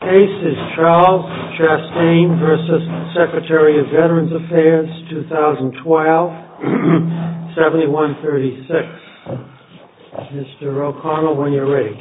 The case is Charles Chastain v. Secretary of Veterans Affairs, 2012, 7136. Mr. O'Connell, when you're ready.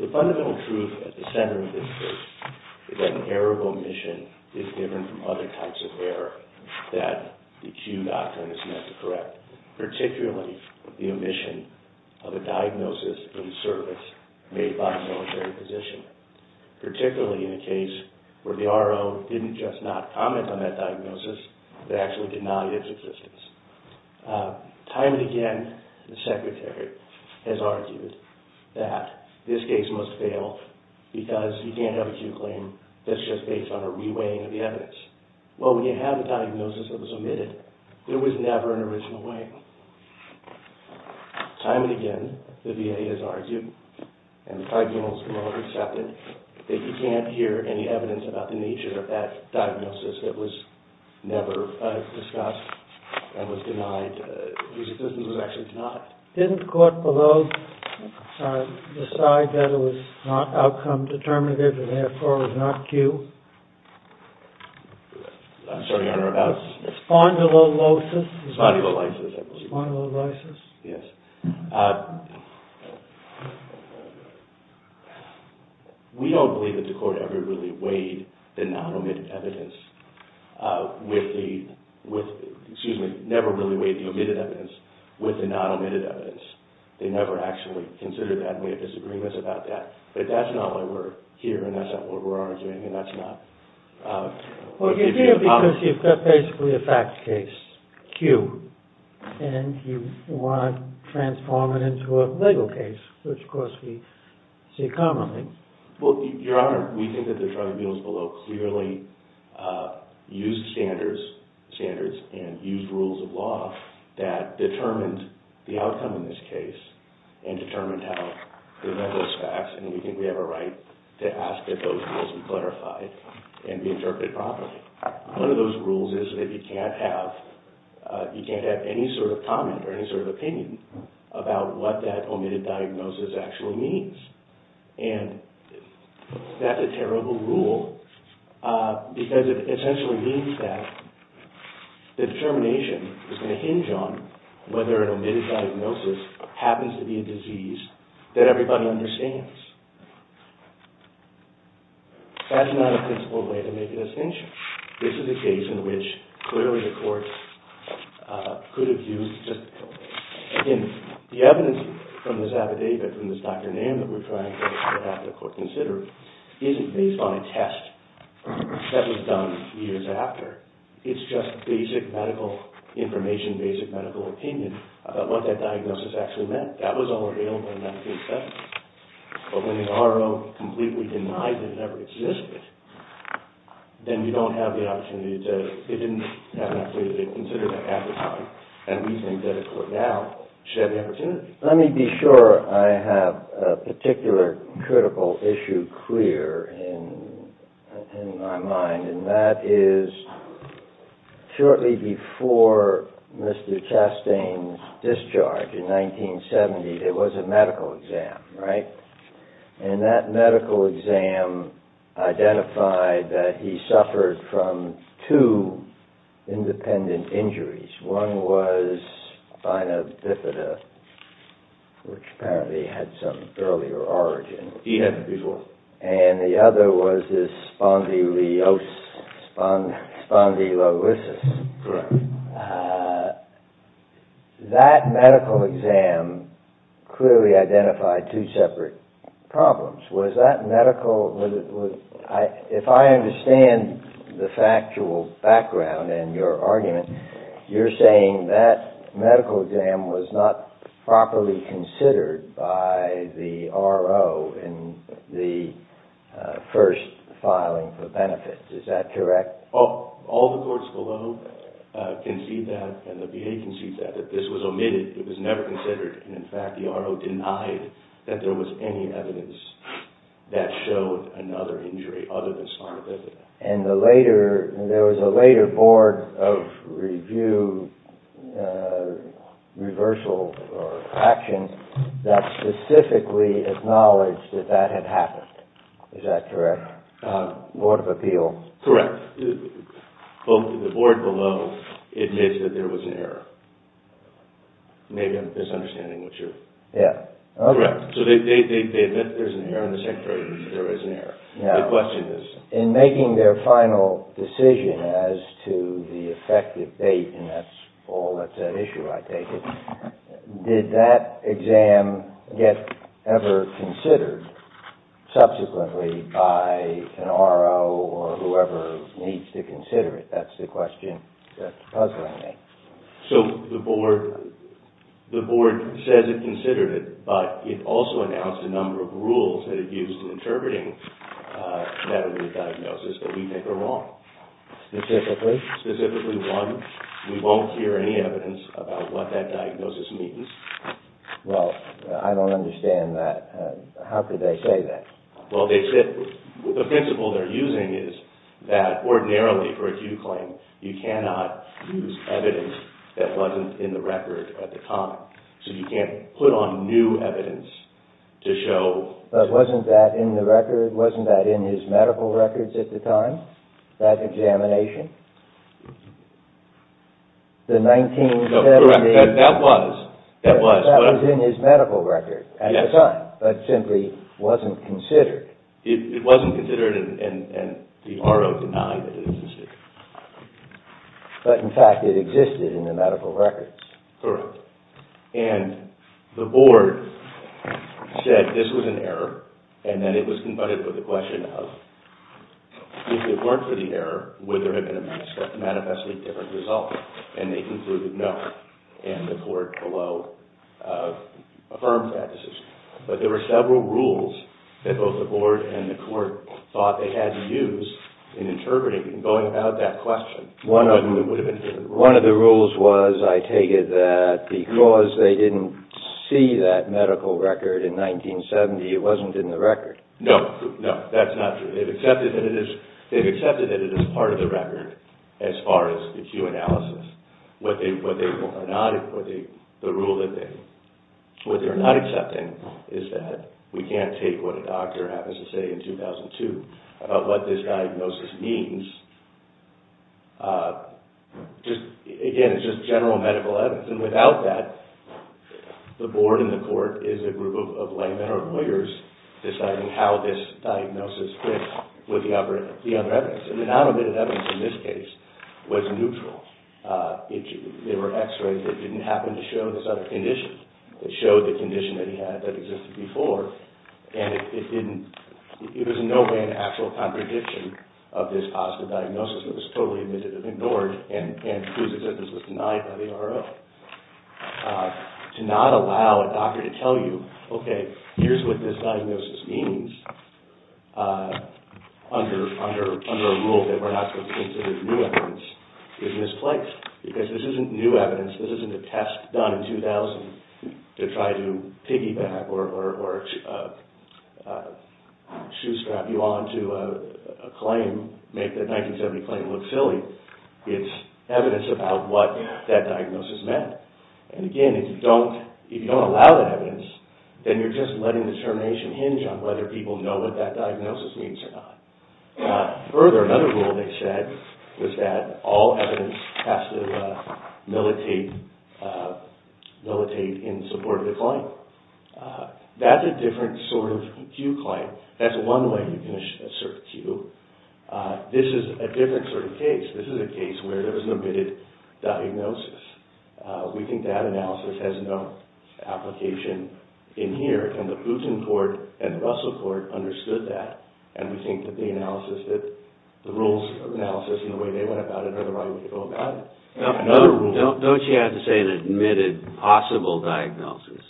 The fundamental truth at the center of this case is that an error of omission is different from other types of error. It's not an error that the Q doctrine is meant to correct, particularly the omission of a diagnosis in service made by a military physician, particularly in a case where the RO didn't just not comment on that diagnosis, but actually denied its existence. Time and again, the Secretary has argued that this case must fail because you can't have a Q claim that's just based on a re-weighing of the evidence. Well, when you have a diagnosis that was omitted, there was never an original weighing. Time and again, the VA has argued, and the tribunals have all accepted, that you can't hear any evidence about the nature of that diagnosis that was never discussed and was denied, whose existence was actually denied. Didn't the court below decide that it was not outcome-determinative and therefore was not Q? We don't believe that the court ever really weighed the omitted evidence with the non-omitted evidence. They never actually considered that, and we have disagreements about that. Well, you do because you've got basically a fact case, Q, and you want to transform it into a legal case, which, of course, we see commonly. Well, Your Honor, we think that the tribunals below clearly used standards and used rules of law that determined the outcome in this case and determined how they met those facts, and we think we have a right to ask that those rules be clarified and be interpreted properly. One of those rules is that you can't have any sort of comment or any sort of opinion about what that omitted diagnosis actually means, and that's a terrible rule because it essentially means that the determination is going to hinge on whether an omitted diagnosis happens to be a disease that everybody understands. That's not a principled way to make a distinction. This is a case in which clearly the court could have used just the evidence from this affidavit, from this doctor name that we're trying to have the court consider isn't based on a test that was done years after. It's just basic medical information, basic medical opinion about what that diagnosis actually meant. That was all available in 1977, but when the R.O. completely denied that it ever existed, then you don't have the opportunity to – it didn't have enough data to consider that half the time, and we think that a court now should have the opportunity. Let me be sure I have a particular critical issue clear in my mind, and that is shortly before Mr. Chastain's discharge in 1970, there was a medical exam, right? And that medical exam identified that he suffered from two independent injuries. One was spina bifida, which apparently had some earlier origin. And the other was spondylosis. That medical exam clearly identified two separate problems. Was that medical – if I understand the factual background in your argument, you're saying that medical exam was not properly considered by the R.O. in the first filing for benefits. Is that correct? All the courts below can see that, and the VA can see that, that this was omitted. It was never considered, and in fact, the R.O. denied that there was any evidence that showed another injury other than spondylosis. And the later – there was a later Board of Review reversal or action that specifically acknowledged that that had happened. Is that correct? Board of Appeals. Correct. Both the Board below admits that there was an error. Maybe I'm misunderstanding what you're – Yeah. Okay. Correct. So they admit there's an error, and the Secretary admits there is an error. Yeah. My question is, in making their final decision as to the effective date – and that's all that's at issue, I take it – did that exam get ever considered subsequently by an R.O. or whoever needs to consider it? That's the question that's puzzling me. So the Board – the Board says it considered it, but it also announced a number of rules that it used in interpreting that early diagnosis that we think are wrong. Specifically? Specifically, one, we won't hear any evidence about what that diagnosis means. Well, I don't understand that. How could they say that? Well, they said – the principle they're using is that ordinarily for acute claim, you cannot use evidence that wasn't in the record at the time. So you can't put on new evidence to show – But wasn't that in the record – wasn't that in his medical records at the time, that examination? The 1970 – That was in his medical record at the time, but simply wasn't considered. It wasn't considered, and the R.O. denied that it existed. But, in fact, it existed in the medical records. Correct. And the Board said this was an error, and then it was confronted with the question of if it weren't for the error, would there have been a manifestly different result? And they concluded no, and the Court below affirmed that decision. But there were several rules that both the Board and the Court thought they had to use in interpreting and going about that question. One of them would have been different rules. Which was, I take it, that because they didn't see that medical record in 1970, it wasn't in the record. No, no, that's not true. They've accepted that it is part of the record as far as acute analysis. What they're not accepting is that we can't take what a doctor happens to say in 2002 about what this diagnosis means. Again, it's just general medical evidence. And without that, the Board and the Court is a group of laymen or lawyers deciding how this diagnosis fits with the other evidence. And the non-admitted evidence in this case was neutral. There were x-rays that didn't happen to show this other condition. It showed the condition that he had that existed before. And it was in no way an actual contradiction of this positive diagnosis. It was totally admitted and ignored, and it was as if this was denied by the NRO. To not allow a doctor to tell you, okay, here's what this diagnosis means, under a rule that we're not supposed to consider new evidence, is misplaced. Because this isn't new evidence, this isn't a test done in 2000 to try to piggyback or shoestrap you on to a claim, make the 1970 claim look silly. It's evidence about what that diagnosis meant. And again, if you don't allow that evidence, then you're just letting determination hinge on whether people know what that diagnosis means or not. Further, another rule they said was that all evidence has to militate in support of the claim. That's a different sort of queue claim. That's one way you can assert a queue. This is a different sort of case. This is a case where there was an admitted diagnosis. We think that analysis has no application in here, and the Putin court and the Russell court understood that. And we think that the rules analysis and the way they went about it are the right way to go about it. Don't you have to say an admitted possible diagnosis?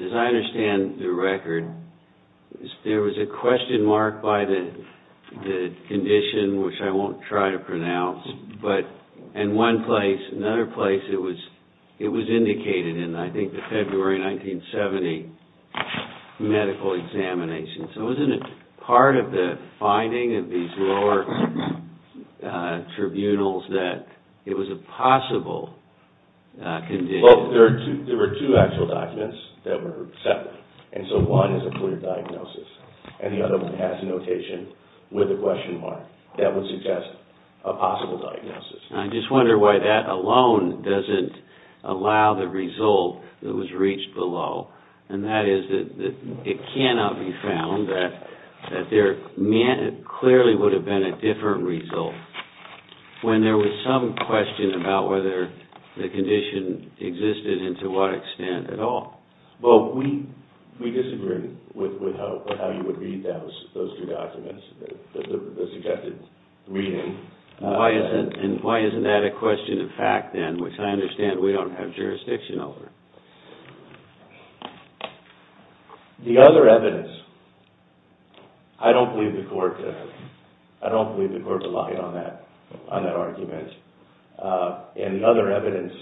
As I understand the record, there was a question mark by the condition, which I won't try to pronounce. But in one place, another place, it was indicated in, I think, the February 1970 medical examination. So isn't it part of the finding of these lower tribunals that it was a possible condition? Well, there were two actual documents that were accepted. And so one is a clear diagnosis, and the other one has a notation with a question mark that would suggest a possible diagnosis. I just wonder why that alone doesn't allow the result that was reached below. And that is that it cannot be found that there clearly would have been a different result when there was some question about whether the condition existed and to what extent at all. Well, we disagree with how you would read those two documents, the suggested reading. And why isn't that a question of fact, then, which I understand we don't have jurisdiction over? The other evidence, I don't believe the court relied on that argument. And the other evidence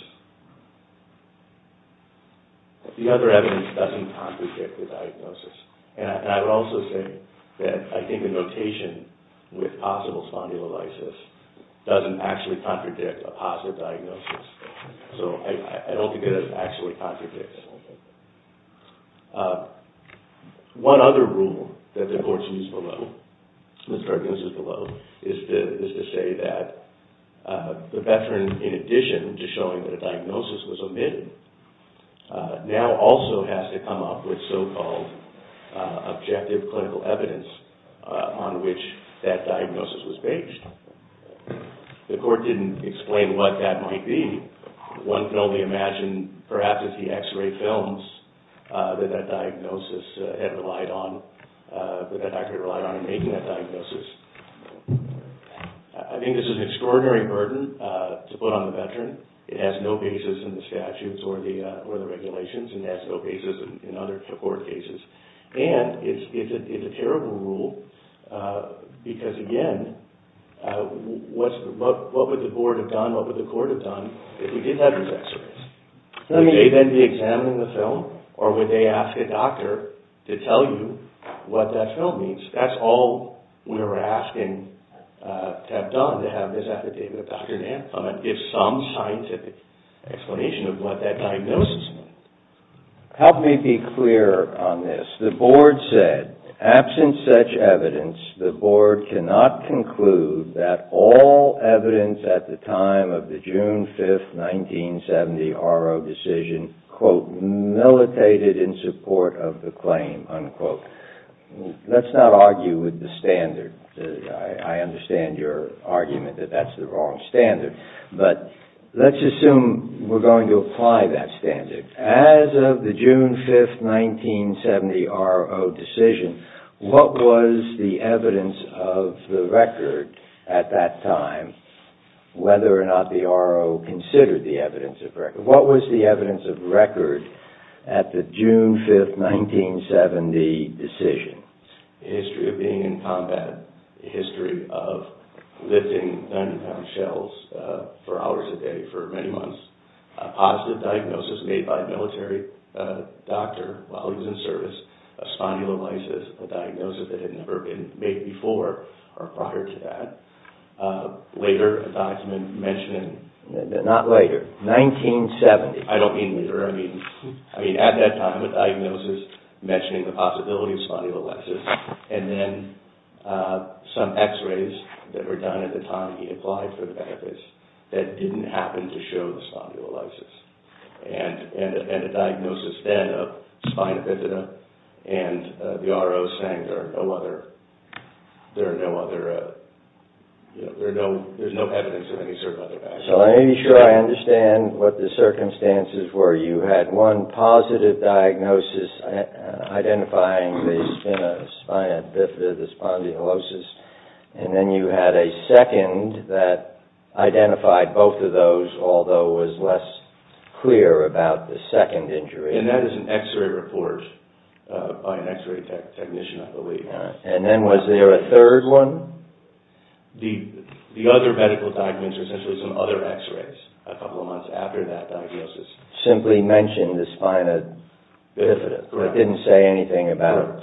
doesn't contradict the diagnosis. And I would also say that I think the notation with possible spondylolisis doesn't actually contradict a positive diagnosis. So I don't think it actually contradicts. One other rule that the court used below, the court uses below, is to say that the veteran, in addition to showing that a diagnosis was omitted, now also has to come up with so-called objective clinical evidence on which that diagnosis was based. The court didn't explain what that might be. One can only imagine, perhaps, as he x-ray films, that that diagnosis had relied on, that that doctor had relied on in making that diagnosis. I think this is an extraordinary burden to put on the veteran. It has no basis in the statutes or the regulations, and it has no basis in other court cases. And it's a terrible rule because, again, what would the board have done, what would the court have done, if we did have these x-rays? Would they then be examining the film, or would they ask a doctor to tell you what that film means? That's all we're asking to have done, to have this affidavit of Dr. Nance on it, give some scientific explanation of what that diagnosis meant. Help me be clear on this. The board said, absent such evidence, the board cannot conclude that all evidence at the time of the June 5, 1970, RO decision, was, quote, militated in support of the claim, unquote. Let's not argue with the standard. I understand your argument that that's the wrong standard. But let's assume we're going to apply that standard. As of the June 5, 1970, RO decision, what was the evidence of the record at that time, whether or not the RO considered the evidence of record? What was the evidence of record at the June 5, 1970 decision? The history of being in combat, the history of lifting 90-pound shells for hours a day for many months, a positive diagnosis made by a military doctor while he was in service, a spondylolisis, a diagnosis that had never been made before or prior to that, later, a document mentioning... Not later. 1970. I don't mean later. I mean, at that time, a diagnosis mentioning the possibility of spondylolisis, and then some x-rays that were done at the time he applied for the benefits that didn't happen to show the spondylolisis. And a diagnosis, then, of spina bifida, and the RO saying there are no other... There are no other... There's no evidence of any certain other factors. So let me be sure I understand what the circumstances were. You had one positive diagnosis identifying the spina bifida, the spondylolisis, and then you had a second that identified both of those, although was less clear about the second injury. And that is an x-ray report by an x-ray technician, I believe. And then was there a third one? The other medical documents were essentially some other x-rays a couple of months after that diagnosis. Simply mentioned the spina bifida, but didn't say anything about...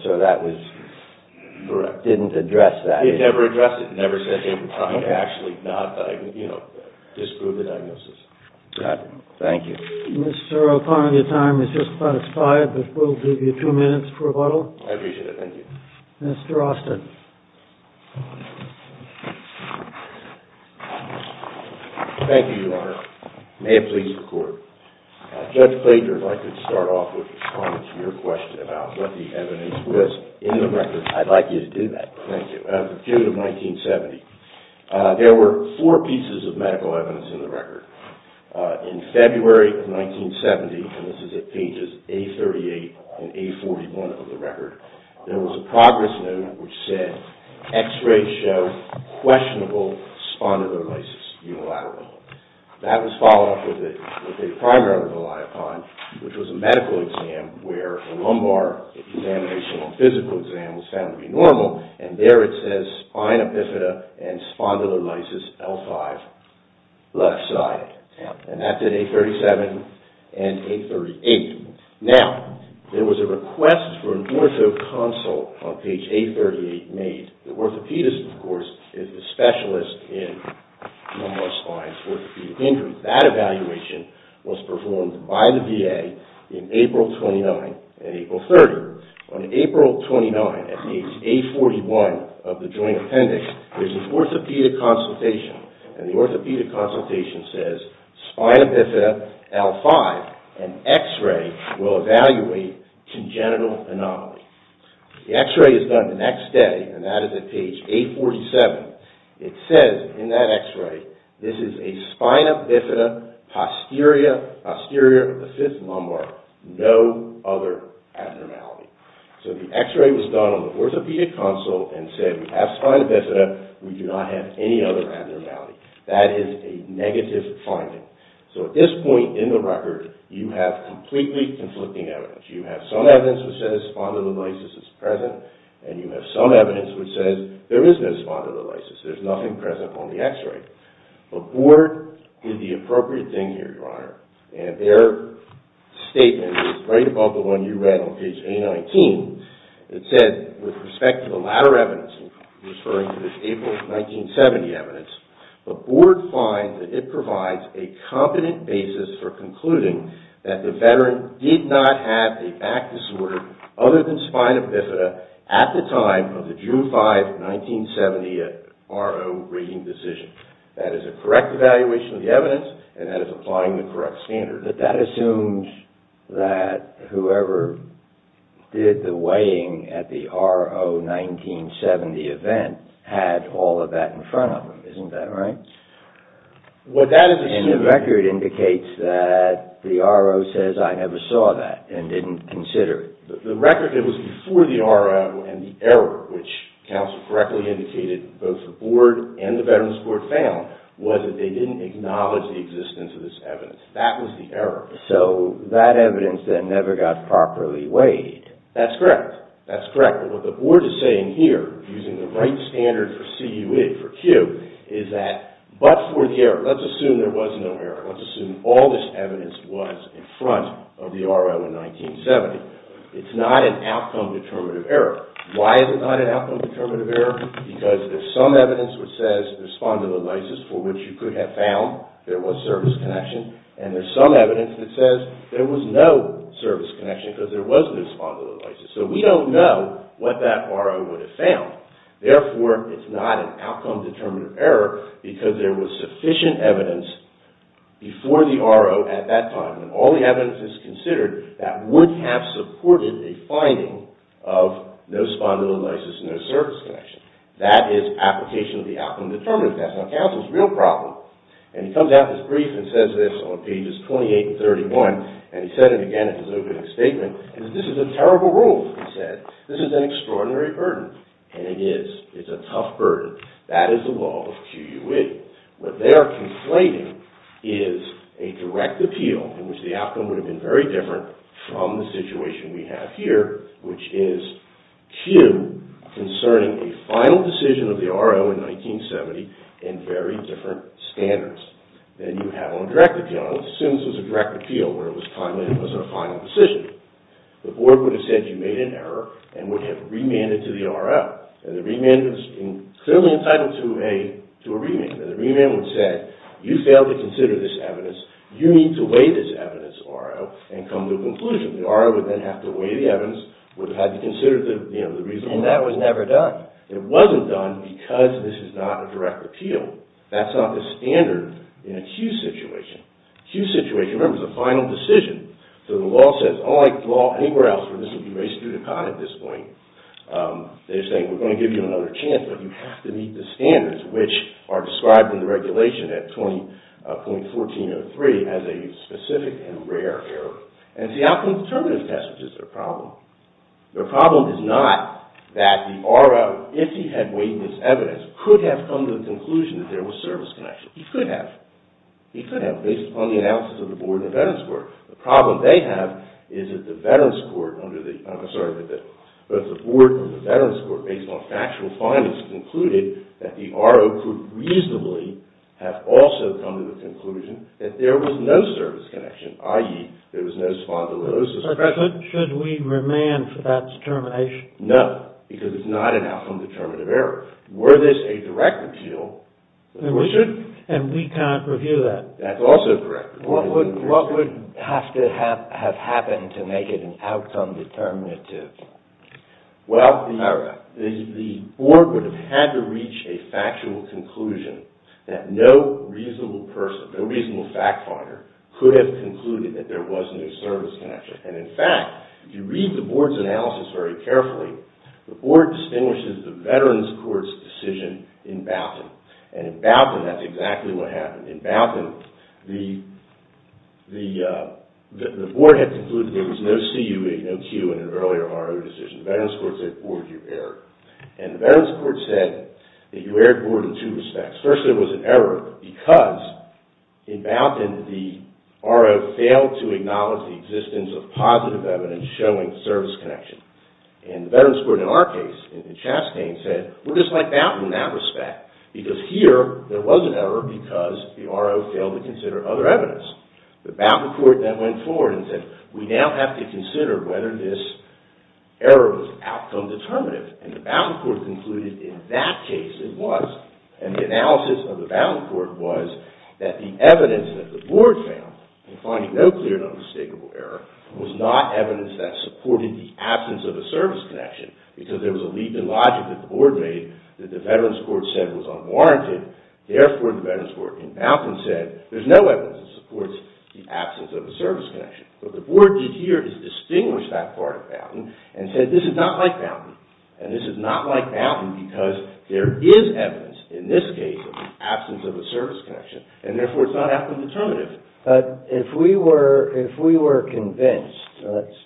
Correct. Didn't address that, either. He never addressed it. He never said anything about actually not diagnosing, you know, disproving the diagnosis. Got it. Thank you. Mr. O'Connor, your time is just past five, but we'll give you two minutes for rebuttal. I appreciate it. Thank you. Mr. Austin. Thank you, Your Honor. May it please the Court. Judge Fletcher, if I could start off with responding to your question about what the evidence was in the record. I'd like you to do that. Thank you. Of the period of 1970, there were four pieces of medical evidence in the record. In February of 1970, and this is at pages A38 and A41 of the record, there was a progress note which said, x-rays show questionable spondylolisthesis unilaterally. That was followed up with a primary relied upon, which was a medical exam, where a lumbar examination or physical exam was found to be normal, and there it says spine epiphyta and spondylolisthesis L5, left side. And that's at A37 and A38. Now, there was a request for an ortho consult on page A38 made. The orthopedist, of course, is the specialist in lumbar spine and orthopedic injury. That evaluation was performed by the VA in April 29 and April 30. On April 29, at page A41 of the joint appendix, there's an orthopedic consultation, and the orthopedic consultation says, spine epiphyta L5 and x-ray will evaluate congenital anomalies. The x-ray is done the next day, and that is at page A47. It says in that x-ray, this is a spine epiphyta posterior L5, no other abnormality. So the x-ray was done on the orthopedic consult and said, we have spine epiphyta, we do not have any other abnormality. That is a negative finding. So at this point in the record, you have completely conflicting evidence. You have some evidence which says spondylolisthesis is present, and you have some evidence which says there is no spondylolisthesis. There's nothing present on the x-ray. But Board did the appropriate thing here, Your Honor, and their statement is right above the one you read on page A19. It says, with respect to the latter evidence, referring to this April 1970 evidence, the Board finds that it provides a competent basis for concluding that the veteran did not have a back disorder other than spine epiphyta at the time of the June 5, 1970, RO rating decision. That is a correct evaluation of the evidence, and that is applying the correct standard. But that assumes that whoever did the weighing at the RO 1970 event had all of that in front of them. Isn't that right? And the record indicates that the RO says, I never saw that and didn't consider it. The record that was before the RO and the error, which counsel correctly indicated, both the Board and the Veterans Court found, was that they didn't acknowledge the existence of this evidence. That was the error. So that evidence then never got properly weighed. That's correct. That's correct. What the Board is saying here, using the right standard for CUE, is that, but for the error, let's assume there was no error. Let's assume all this evidence was in front of the RO in 1970. It's not an outcome-determinative error. Why is it not an outcome-determinative error? Because there's some evidence which says there's spondylolisis, for which you could have found there was service connection, and there's some evidence that says there was no service connection because there was no spondylolisis. So we don't know what that RO would have found. Therefore, it's not an outcome-determinative error because there was sufficient evidence before the RO at that time, and all the evidence is considered, that would have supported a finding of no spondylolisis, no service connection. That is application of the outcome-determinative test. Now, counsel's real problem, and he comes out of his brief and says this on pages 28 and 31, and he said it again at his opening statement, is this is a terrible rule, he said. This is an extraordinary burden, and it is. It's a tough burden. That is the law of Q.U.E. What they are conflating is a direct appeal, in which the outcome would have been very different from the situation we have here, which is Q concerning a final decision of the RO in 1970 in very different standards than you have on a direct appeal. The board would have said you made an error and would have remanded to the RO, and the remand is clearly entitled to a remand, and the remand would have said you failed to consider this evidence, you need to weigh this evidence, RO, and come to a conclusion. The RO would then have to weigh the evidence, would have had to consider the reason why. And that was never done. It wasn't done because this is not a direct appeal. That's not the standard in a Q.U.E. situation. Q.U.E. situation, remember, is a final decision. So the law says, unlike the law anywhere else, where this would be raised to the contrary at this point, they're saying we're going to give you another chance, but you have to meet the standards which are described in the regulation at 20.1403 as a specific and rare error. And it's the outcome determinative test which is their problem. Their problem is not that the RO, if he had weighed this evidence, could have come to the conclusion that there was service connection. He could have. He could have, based upon the analysis of the board and the veterans court. The problem they have is that the board and the veterans court, based on factual findings, concluded that the RO could reasonably have also come to the conclusion that there was no service connection, i.e., there was no spondylosis. But should we remand for that determination? No, because it's not an outcome determinative error. Were this a direct appeal? It should, and we can't review that. That's also correct. What would have to have happened to make it an outcome determinative? Well, the board would have had to reach a factual conclusion that no reasonable person, no reasonable fact finder, could have concluded that there was no service connection. And, in fact, if you read the board's analysis very carefully, the board distinguishes the veterans court's decision in Boughton. And in Boughton, that's exactly what happened. In Boughton, the board had concluded there was no CUA, no Q, in an earlier RO decision. The veterans court said, board, you've erred. And the veterans court said that you erred, board, in two respects. First, there was an error because, in Boughton, the RO failed to acknowledge the existence of positive evidence showing service connection. And the veterans court, in our case, in Chastain, said, we're just like Boughton in that respect. Because here, there was an error because the RO failed to consider other evidence. The Boughton court then went forward and said, we now have to consider whether this error was outcome determinative. And the Boughton court concluded, in that case, it was. And the analysis of the Boughton court was that the evidence that the board found in finding no clear and unmistakable error was not evidence that supported the absence of a service connection. Because there was a leap in logic that the board made that the veterans court said was unwarranted. Therefore, the veterans court in Boughton said, there's no evidence that supports the absence of a service connection. What the board did here is distinguish that part of Boughton and said, this is not like Boughton. And this is not like Boughton because there is evidence, in this case, of the absence of a service connection. And therefore, it's not outcome determinative. But if we were convinced, let's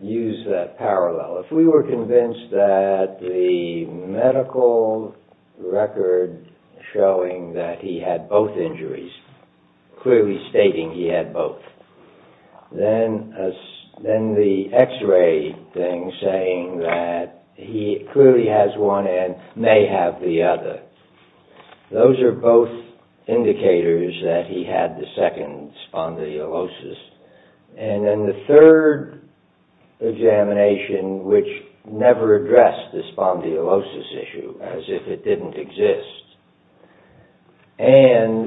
use that parallel, if we were convinced that the medical record showing that he had both injuries, clearly stating he had both, then the x-ray thing saying that he clearly has one and may have the other, those are both indicators that he had the second spondylosis. And then the third examination, which never addressed the spondylosis issue, as if it didn't exist.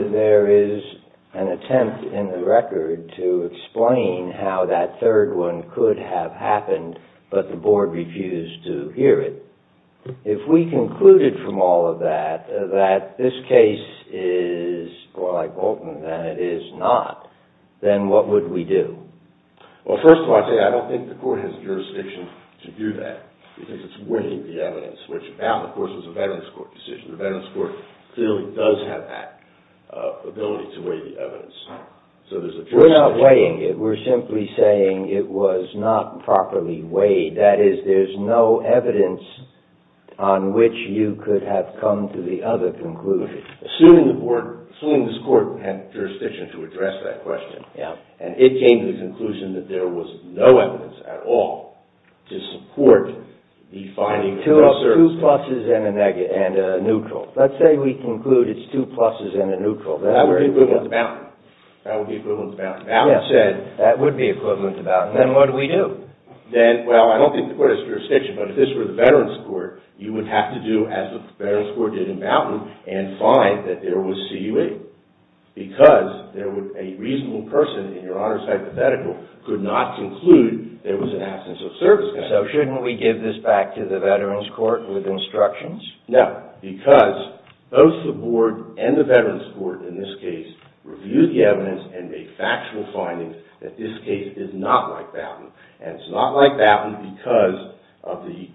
And there is an attempt in the record to explain how that third one could have happened, but the board refused to hear it. If we concluded from all of that that this case is more like Boughton than it is not, then what would we do? Well, first of all, I don't think the court has jurisdiction to do that because it's weighing the evidence, which now, of course, is a Veterans Court decision. The Veterans Court clearly does have that ability to weigh the evidence. We're not weighing it. We're simply saying it was not properly weighed. That is, there's no evidence on which you could have come to the other conclusion. Assuming the board, assuming this court had jurisdiction to address that question, and it came to the conclusion that there was no evidence at all to support the finding of those services. Two pluses and a neutral. Let's say we conclude it's two pluses and a neutral. That would be equivalent to Boughton. Boughton said that would be equivalent to Boughton. Then what do we do? Well, I don't think the court has jurisdiction, but if this were the Veterans Court, you would have to do as the Veterans Court did in Boughton and find that there was CUA because a reasonable person in your honor's hypothetical could not conclude there was an absence of service. So shouldn't we give this back to the Veterans Court with instructions? No, because both the board and the Veterans Court, in this case, review the evidence and make factual findings that this case is not like Boughton and it's not like Boughton because of the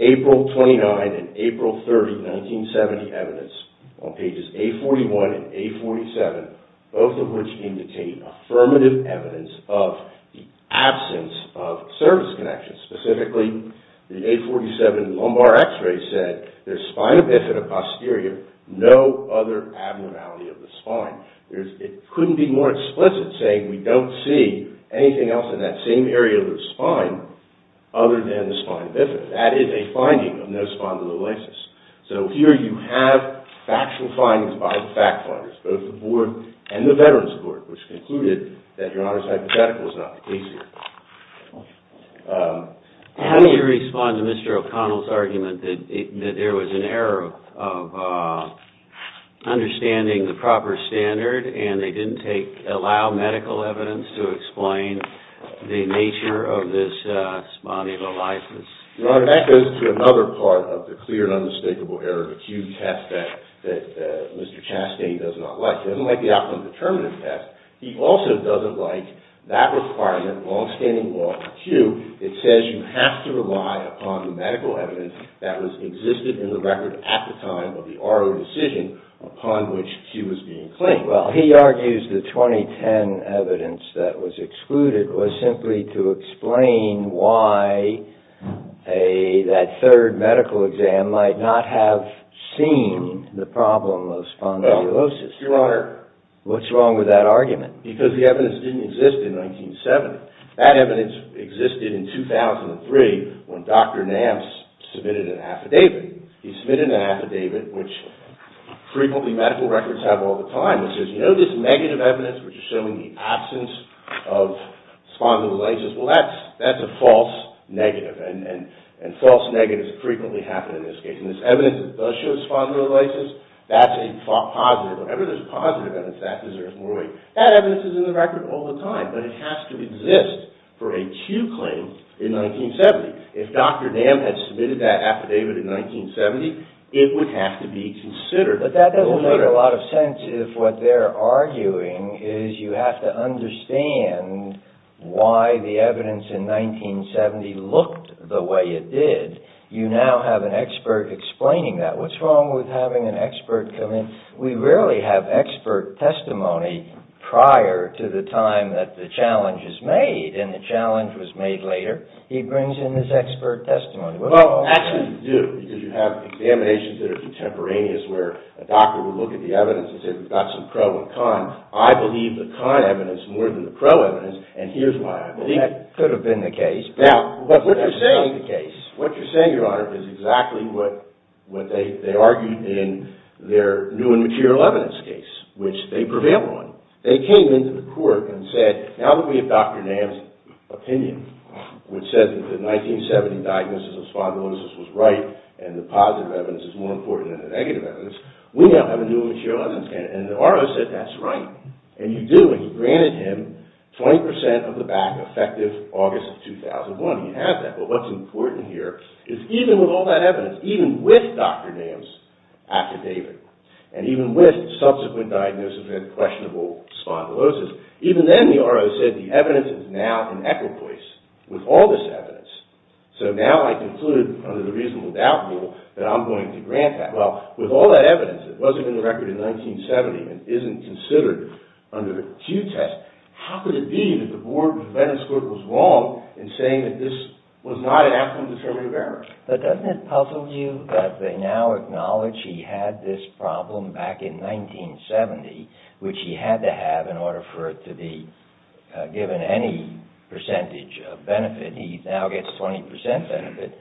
April 29 and April 30, 1970 evidence on pages 841 and 847, both of which contain affirmative evidence of the absence of service connections. Specifically, the 847 lumbar x-ray said there's spina bifida posterior, no other abnormality of the spine. It couldn't be more explicit saying we don't see anything else in that same area of the spine other than the spina bifida. That is a finding of no spondylolisis. So here you have factual findings by the fact finders, both the board and the Veterans Court, which concluded that your honor's hypothetical is not the case here. How do you respond to Mr. O'Connell's argument that there was an error of understanding the proper standard and they didn't allow medical evidence to explain the nature of this spondylolisis? Your honor, that goes to another part of the clear and undistinguishable error of acute test that Mr. Chastain does not like. He doesn't like the optimum determinative test. He also doesn't like that requirement, long-standing law of acute. It says you have to rely upon the medical evidence that existed in the record at the time of the oral decision upon which he was being claimed. Well, he argues the 2010 evidence that was excluded was simply to explain why that third medical exam might not have seen the problem of spondylolisis. Your honor. What's wrong with that argument? Because the evidence didn't exist in 1970. That evidence existed in 2003 when Dr. Nance submitted an affidavit. He submitted an affidavit, which frequently medical records have all the time. It says, you know this negative evidence which is showing the absence of spondylolisis? Well, that's a false negative. And false negatives frequently happen in this case. And this evidence that does show spondylolisis, that's a positive. Whenever there's positive evidence, that deserves more weight. That evidence is in the record all the time. But it has to exist for a Q claim in 1970. If Dr. Nance had submitted that affidavit in 1970, it would have to be considered. But that doesn't make a lot of sense if what they're arguing is you have to understand why the evidence in 1970 looked the way it did. You now have an expert explaining that. What's wrong with having an expert come in? We rarely have expert testimony prior to the time that the challenge is made. And the challenge was made later. He brings in his expert testimony. Well, actually you do, because you have examinations that are contemporaneous where a doctor will look at the evidence and say we've got some pro and con. I believe the con evidence more than the pro evidence, and here's why. Well, that could have been the case. Now, what you're saying, Your Honor, is exactly what they argued in their new and material evidence case, which they prevailed on. They came into the court and said, now that we have Dr. Nance's opinion, which says that the 1970 diagnosis of spondylosis was right, and the positive evidence is more important than the negative evidence, we now have a new and material evidence case. And the RO said that's right. And you do, and he granted him 20% of the back effective August of 2001. He had that. But what's important here is even with all that evidence, even with Dr. Nance's affidavit, and even with subsequent diagnosis of questionable spondylosis, even then the RO said the evidence is now in equal place with all this evidence. So now I conclude under the reasonable doubt rule that I'm going to grant that. Well, with all that evidence that wasn't in the record in 1970 and isn't considered under the Pew test, how could it be that the Board of Veterans' Court was wrong in saying that this was not an act of indeterminative error? But doesn't it puzzle you that they now acknowledge he had this problem back in 1970, which he had to have in order for it to be given any percentage of benefit. He now gets 20% benefit.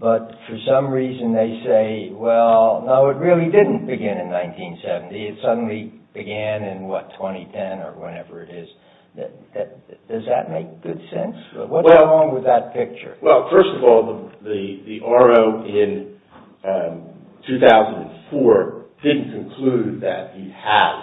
But for some reason they say, well, no, it really didn't begin in 1970. It suddenly began in, what, 2010 or whenever it is. Does that make good sense? What's wrong with that picture? Well, first of all, the RO in 2004 didn't conclude that he has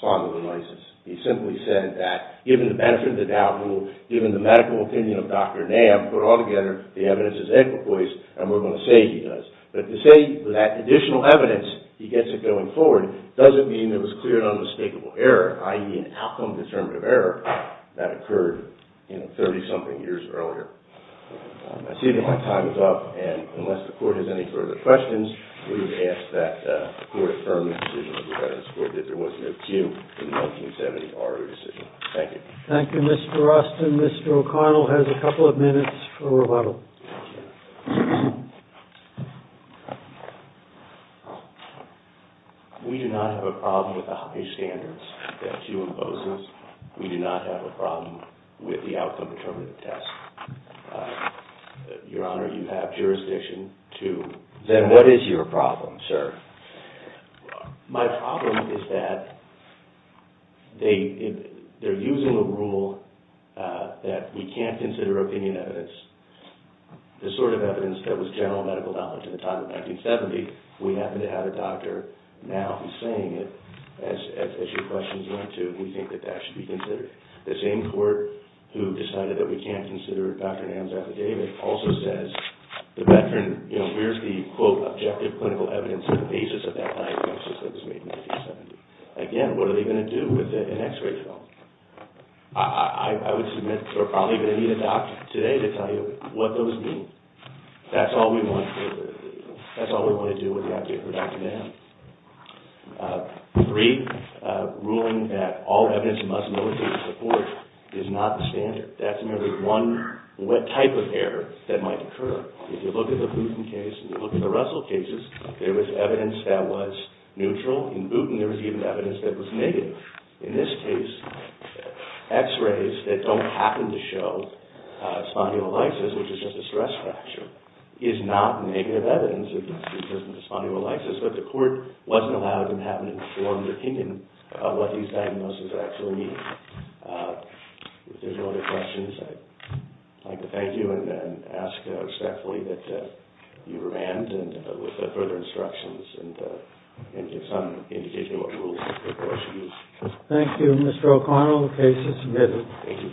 spondylosis. He simply said that given the benefit of the doubt rule, given the medical opinion of Dr. Nance, put it all together, the evidence is in equal place, and we're going to say he does. But to say that additional evidence, he gets it going forward, doesn't mean it was clear and unmistakable error, i.e. an outcome-determinative error, that occurred in 30-something years earlier. I see that my time is up, and unless the Court has any further questions, we would ask that the Court affirm the decision of the Veterans Court that there was no Q in the 1970 RO decision. Thank you. Thank you, Mr. Austin. Mr. O'Connell has a couple of minutes for rebuttal. Thank you. We do not have a problem with the high standards that Q imposes. We do not have a problem with the outcome-determinative test. Your Honor, you have jurisdiction to- Then what is your problem, sir? My problem is that they're using a rule that we can't consider opinion evidence, the sort of evidence that was general medical knowledge at the time of 1970. We happen to have a doctor now who's saying it, as your questions went to, and we think that that should be considered. The same court who decided that we can't consider Dr. Nairn's affidavit also says, where's the, quote, objective clinical evidence on the basis of that diagnosis that was made in 1970? Again, what are they going to do with an X-ray film? I would submit that we're probably going to need a doctor today to tell you what those mean. That's all we want to do when we have to hear from Dr. Nairn. Three, ruling that all evidence must not be supported is not the standard. That's merely one type of error that might occur. If you look at the Bouton case and you look at the Russell cases, there was evidence that was neutral. In Bouton, there was even evidence that was negative. In this case, X-rays that don't happen to show spondylolisis, which is just a stress fracture, is not negative evidence of spondylolisis, but the court wasn't allowed to have an informed opinion of what these diagnoses actually mean. If there's no other questions, I'd like to thank you and ask respectfully that you remand, with further instructions, and give some indication of what rules the court should use. Thank you, Mr. O'Connell. The case is submitted. Thank you.